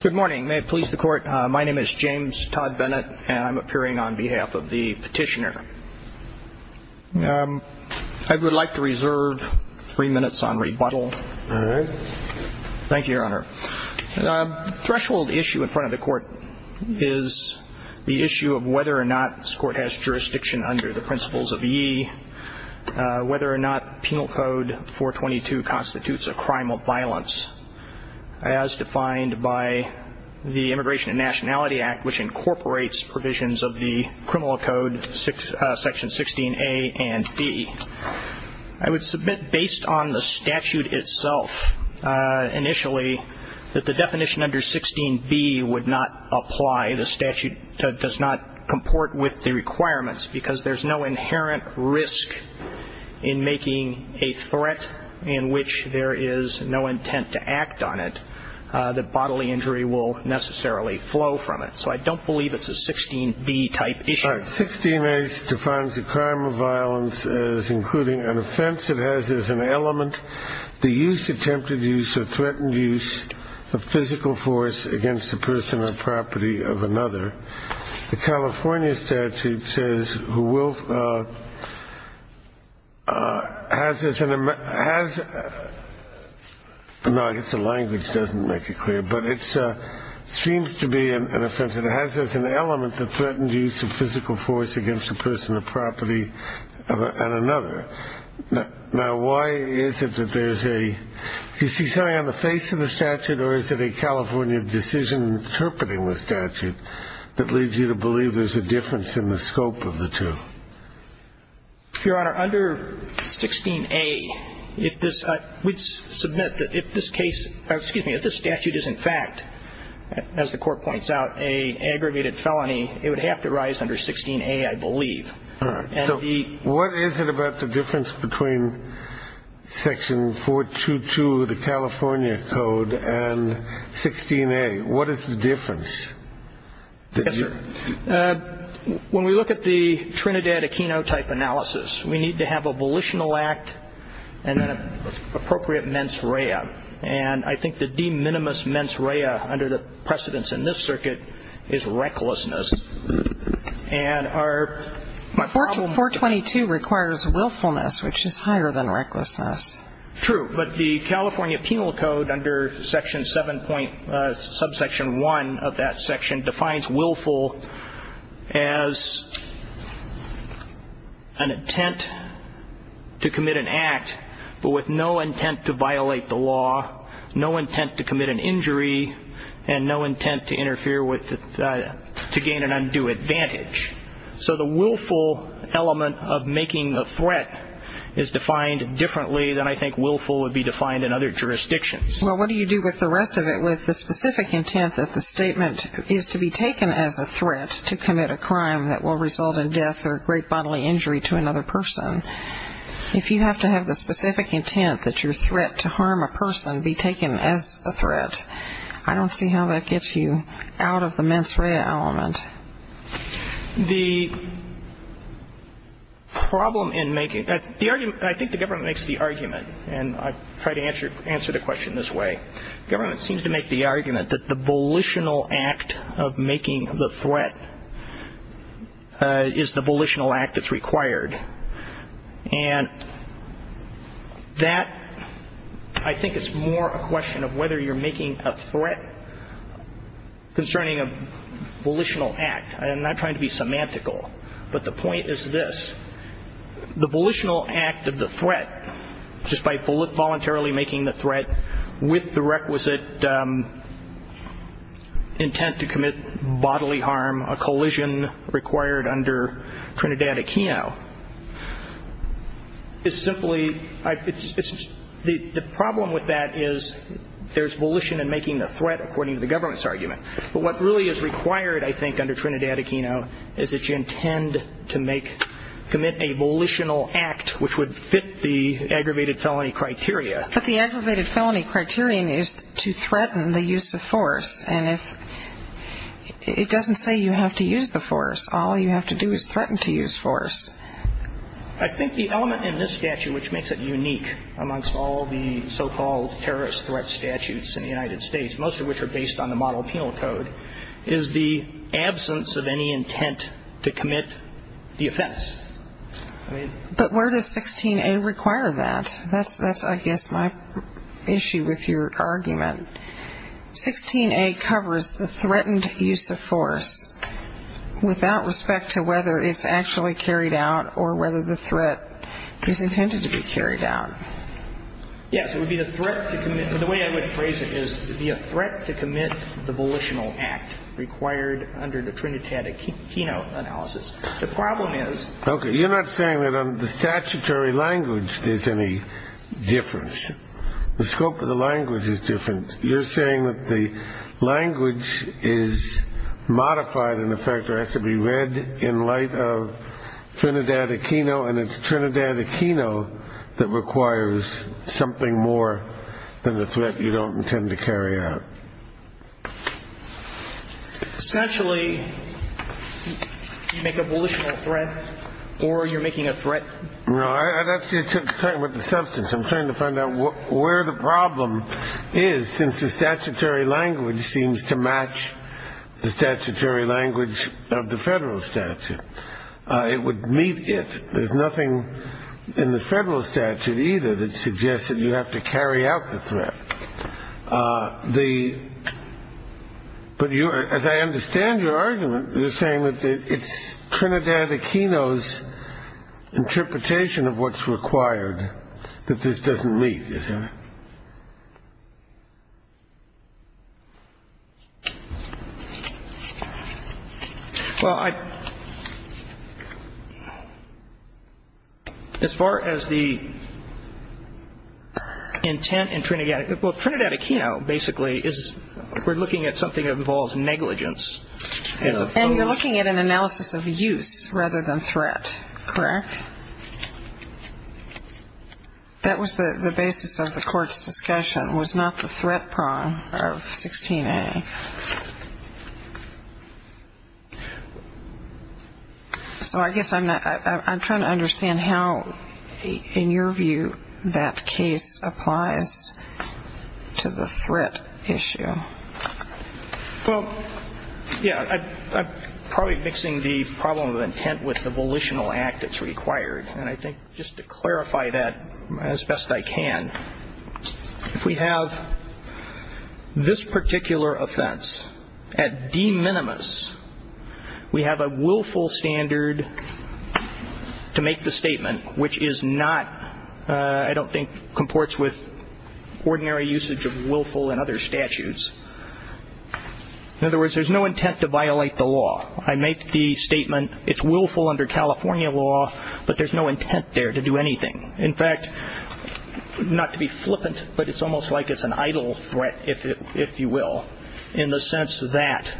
Good morning, may it please the court. My name is James Todd Bennett, and I'm appearing on behalf of the petitioner. I would like to reserve three minutes on rebuttal. All right. Thank you, Your Honor. The threshold issue in front of the court is the issue of whether or not this court has jurisdiction under the principles of ye, whether or not Penal Code 422 constitutes a crime of violence, as defined by the Immigration and Nationality Act, which incorporates provisions of the Criminal Code Section 16A and B. I would submit, based on the statute itself, initially, that the definition under 16B would not apply. The statute does not comport with the requirements, because there's no inherent risk in making a threat in which there is no intent to act on it that bodily injury will necessarily flow from it. So I don't believe it's a 16B type issue. 16A defines a crime of violence as including an offense that has as an element the use, attempted use, or threatened use of physical force against a person or property of another. The California statute says who will, has, no, I guess the language doesn't make it clear, but it seems to be an offense. It has as an element the threatened use of physical force against a person or property of another. Now, why is it that there's a, do you see something on the face of the statute, or is it a California decision interpreting the statute that leads you to believe there's a difference in the scope of the two? Your Honor, under 16A, if this, we'd submit that if this case, excuse me, if this statute is in fact, as the Court points out, an aggravated felony, it would have to rise under 16A, I believe. All right. So what is it about the difference between section 422, the California code, and 16A? What is the difference? Yes, sir. When we look at the Trinidad Aquino type analysis, we need to have a volitional act and an appropriate mens rea. And I think the de minimis mens rea under the precedence in this circuit is recklessness. And our, my problem. 422 requires willfulness, which is higher than recklessness. True. But the California penal code under section 7., subsection 1 of that section, defines willful as an intent to commit an act but with no intent to violate the law, no intent to commit an injury, and no intent to interfere with, to gain an undue advantage. So the willful element of making a threat is defined differently than I think willful would be defined in other jurisdictions. Well, what do you do with the rest of it, with the specific intent that the statement is to be taken as a threat to commit a crime that will result in death or great bodily injury to another person? If you have to have the specific intent that your threat to harm a person be taken as a threat, I don't see how that gets you out of the mens rea element. The problem in making, the argument, I think the government makes the argument, and I try to answer the question this way. The government seems to make the argument that the volitional act of making the threat is the volitional act that's required. And that, I think it's more a question of whether you're making a threat concerning a volitional act. I'm not trying to be semantical, but the point is this. The volitional act of the threat, just by voluntarily making the threat with the requisite intent to commit bodily harm, a collision required under Trinidad-Aquino, is simply, the problem with that is there's volition in making the threat according to the government's argument. But what really is required, I think, under Trinidad-Aquino, is that you intend to commit a volitional act which would fit the aggravated felony criteria. But the aggravated felony criterion is to threaten the use of force. And it doesn't say you have to use the force. All you have to do is threaten to use force. I think the element in this statute which makes it unique amongst all the so-called terrorist threat statutes in the United States, most of which are based on the model penal code, is the absence of any intent to commit the offense. But where does 16A require that? That's, I guess, my issue with your argument. 16A covers the threatened use of force without respect to whether it's actually carried out or whether the threat is intended to be carried out. Yes, it would be the threat to commit. The way I would phrase it is it would be a threat to commit the volitional act required under the Trinidad-Aquino analysis. The problem is. Okay, you're not saying that on the statutory language there's any difference. The scope of the language is different. You're saying that the language is modified in the fact that it has to be read in light of Trinidad-Aquino and it's Trinidad-Aquino that requires something more than the threat you don't intend to carry out. Essentially, you make a volitional threat or you're making a threat. No, I'm actually talking about the substance. I'm trying to find out where the problem is since the statutory language seems to match the statutory language of the federal statute. It would meet it. There's nothing in the federal statute either that suggests that you have to carry out the threat. But as I understand your argument, you're saying that it's Trinidad-Aquino's interpretation of what's required that this doesn't meet. Yes, ma'am. Well, as far as the intent in Trinidad-Aquino, basically, we're looking at something that involves negligence. And you're looking at an analysis of use rather than threat, correct? That was the basis of the court's discussion, was not the threat prong of 16A. So I guess I'm trying to understand how, in your view, that case applies to the threat issue. Well, yeah, I'm probably mixing the problem of intent with the volitional act that's required. And I think just to clarify that as best I can, if we have this particular offense at de minimis, we have a willful standard to make the statement, which is not, I don't think, comports with ordinary usage of willful in other statutes. In other words, there's no intent to violate the law. I make the statement, it's willful under California law, but there's no intent there to do anything. In fact, not to be flippant, but it's almost like it's an idle threat, if you will, in the sense that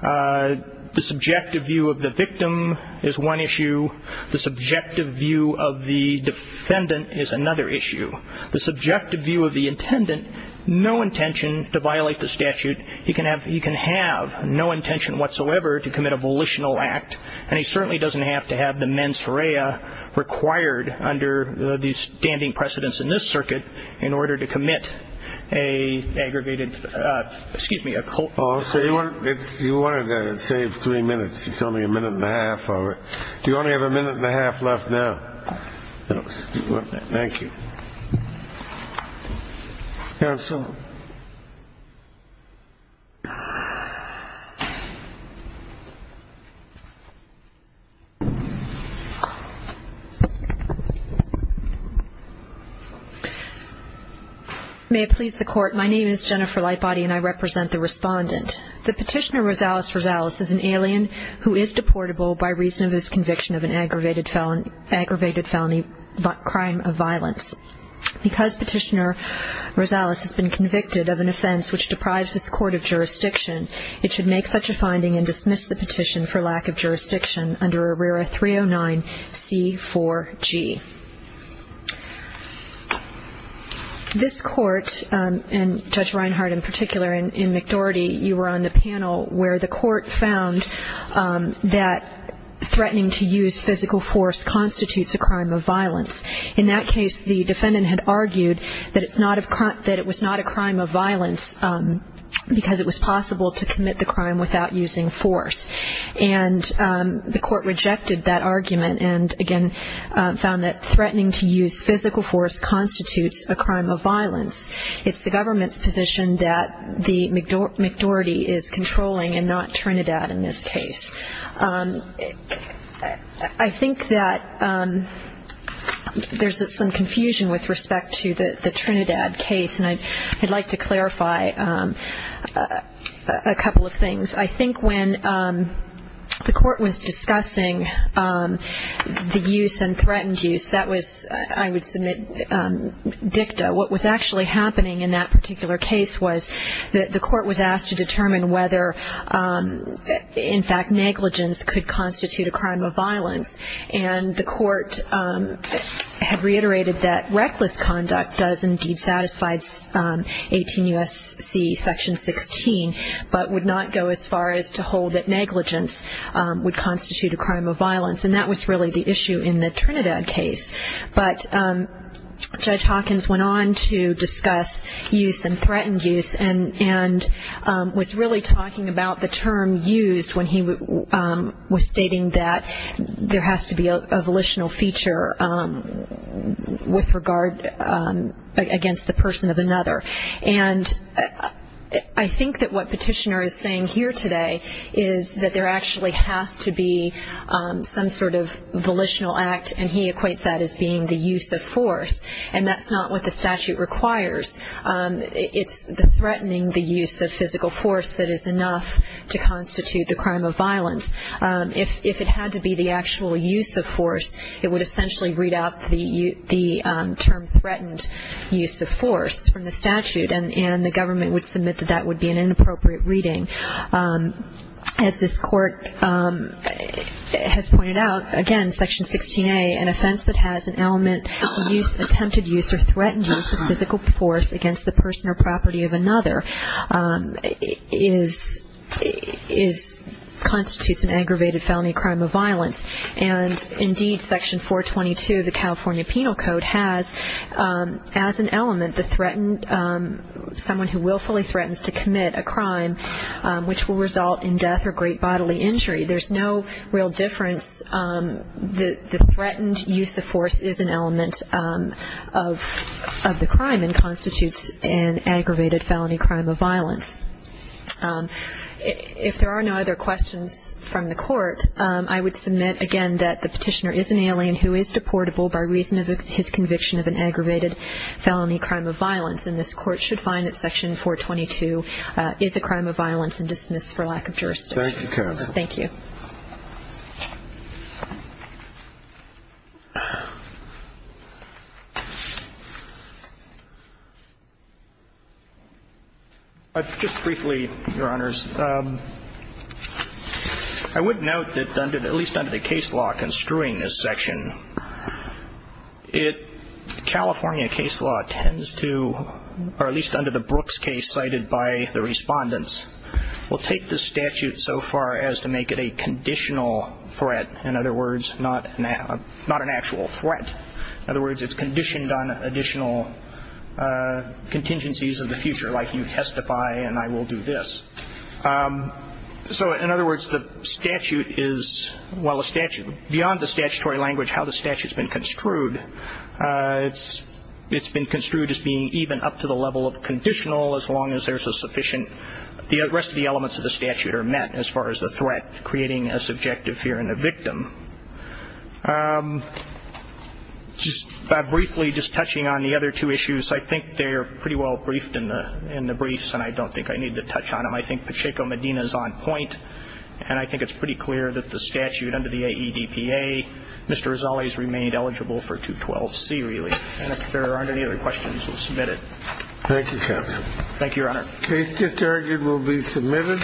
the subjective view of the victim is one issue. The subjective view of the defendant is another issue. The subjective view of the intendant, no intention to violate the statute. He can have no intention whatsoever to commit a volitional act, and he certainly doesn't have to have the mens rea required under the standing precedence in this circuit in order to commit an aggravated, excuse me, a culpability. You wanted to save three minutes. It's only a minute and a half. All right. You only have a minute and a half left now. Thank you. May it please the court. My name is Jennifer Lightbody, and I represent the respondent. The petitioner Rosales Rosales is an alien who is deportable by reason of his conviction of an aggravated felony crime of violence. Because petitioner Rosales has been convicted of an offense which deprives this court of jurisdiction, it should make such a finding and dismiss the petition for lack of jurisdiction under ARERA 309C4G. This court, and Judge Reinhardt in particular, and McDoherty, you were on the panel where the court found that threatening to use physical force constitutes a crime of violence. In that case, the defendant had argued that it was not a crime of violence because it was possible to commit the crime without using force. And the court rejected that argument and, again, found that threatening to use physical force constitutes a crime of violence. It's the government's position that the McDoherty is controlling and not Trinidad in this case. I think that there's some confusion with respect to the Trinidad case, and I'd like to clarify a couple of things. I think when the court was discussing the use and threatened use, that was, I would submit, dicta. What was actually happening in that particular case was that the court was asked to determine whether, in fact, negligence could constitute a crime of violence. And the court had reiterated that reckless conduct does indeed satisfy 18 U.S.C. section 16, but would not go as far as to hold that negligence would constitute a crime of violence. And that was really the issue in the Trinidad case. But Judge Hawkins went on to discuss use and threatened use and was really talking about the term used when he was stating that there has to be a volitional feature with regard against the person of another. And I think that what Petitioner is saying here today is that there actually has to be some sort of volitional act, and he equates that as being the use of force. And that's not what the statute requires. It's the threatening the use of physical force that is enough to constitute the crime of violence. If it had to be the actual use of force, it would essentially read out the term threatened use of force from the statute, and the government would submit that that would be an inappropriate reading. As this court has pointed out, again, Section 16A, an offense that has an element of use, attempted use, or threatened use of physical force against the person or property of another constitutes an aggravated felony crime of violence. And, indeed, Section 422 of the California Penal Code has, as an element, someone who willfully threatens to commit a crime which will result in death or great bodily injury. There's no real difference. The threatened use of force is an element of the crime If there are no other questions from the Court, I would submit, again, that the Petitioner is an alien who is deportable by reason of his conviction of an aggravated felony crime of violence. And this Court should find that Section 422 is a crime of violence and dismiss for lack of jurisdiction. Thank you, Karen. Thank you. Just briefly, Your Honors, I would note that, at least under the case law construing this section, California case law tends to, or at least under the Brooks case cited by the Respondents, will take the statute so far as to make it a conditional threat. In other words, not an actual threat. In other words, it's conditioned on additional contingencies of the future, like you testify and I will do this. So, in other words, the statute is, well, beyond the statutory language, how the statute's been construed, it's been construed as being even up to the level of conditional as long as there's a sufficient, the rest of the elements of the statute are met as far as the threat, creating a subjective fear in the victim. Just briefly, just touching on the other two issues, I think they're pretty well briefed in the briefs, and I don't think I need to touch on them. I think Pacheco Medina's on point, and I think it's pretty clear that the statute under the AEDPA, Mr. Rizzoli's remained eligible for 212C, really. And if there aren't any other questions, we'll submit it. Thank you, counsel. Thank you, Your Honor. The case just heard will be submitted.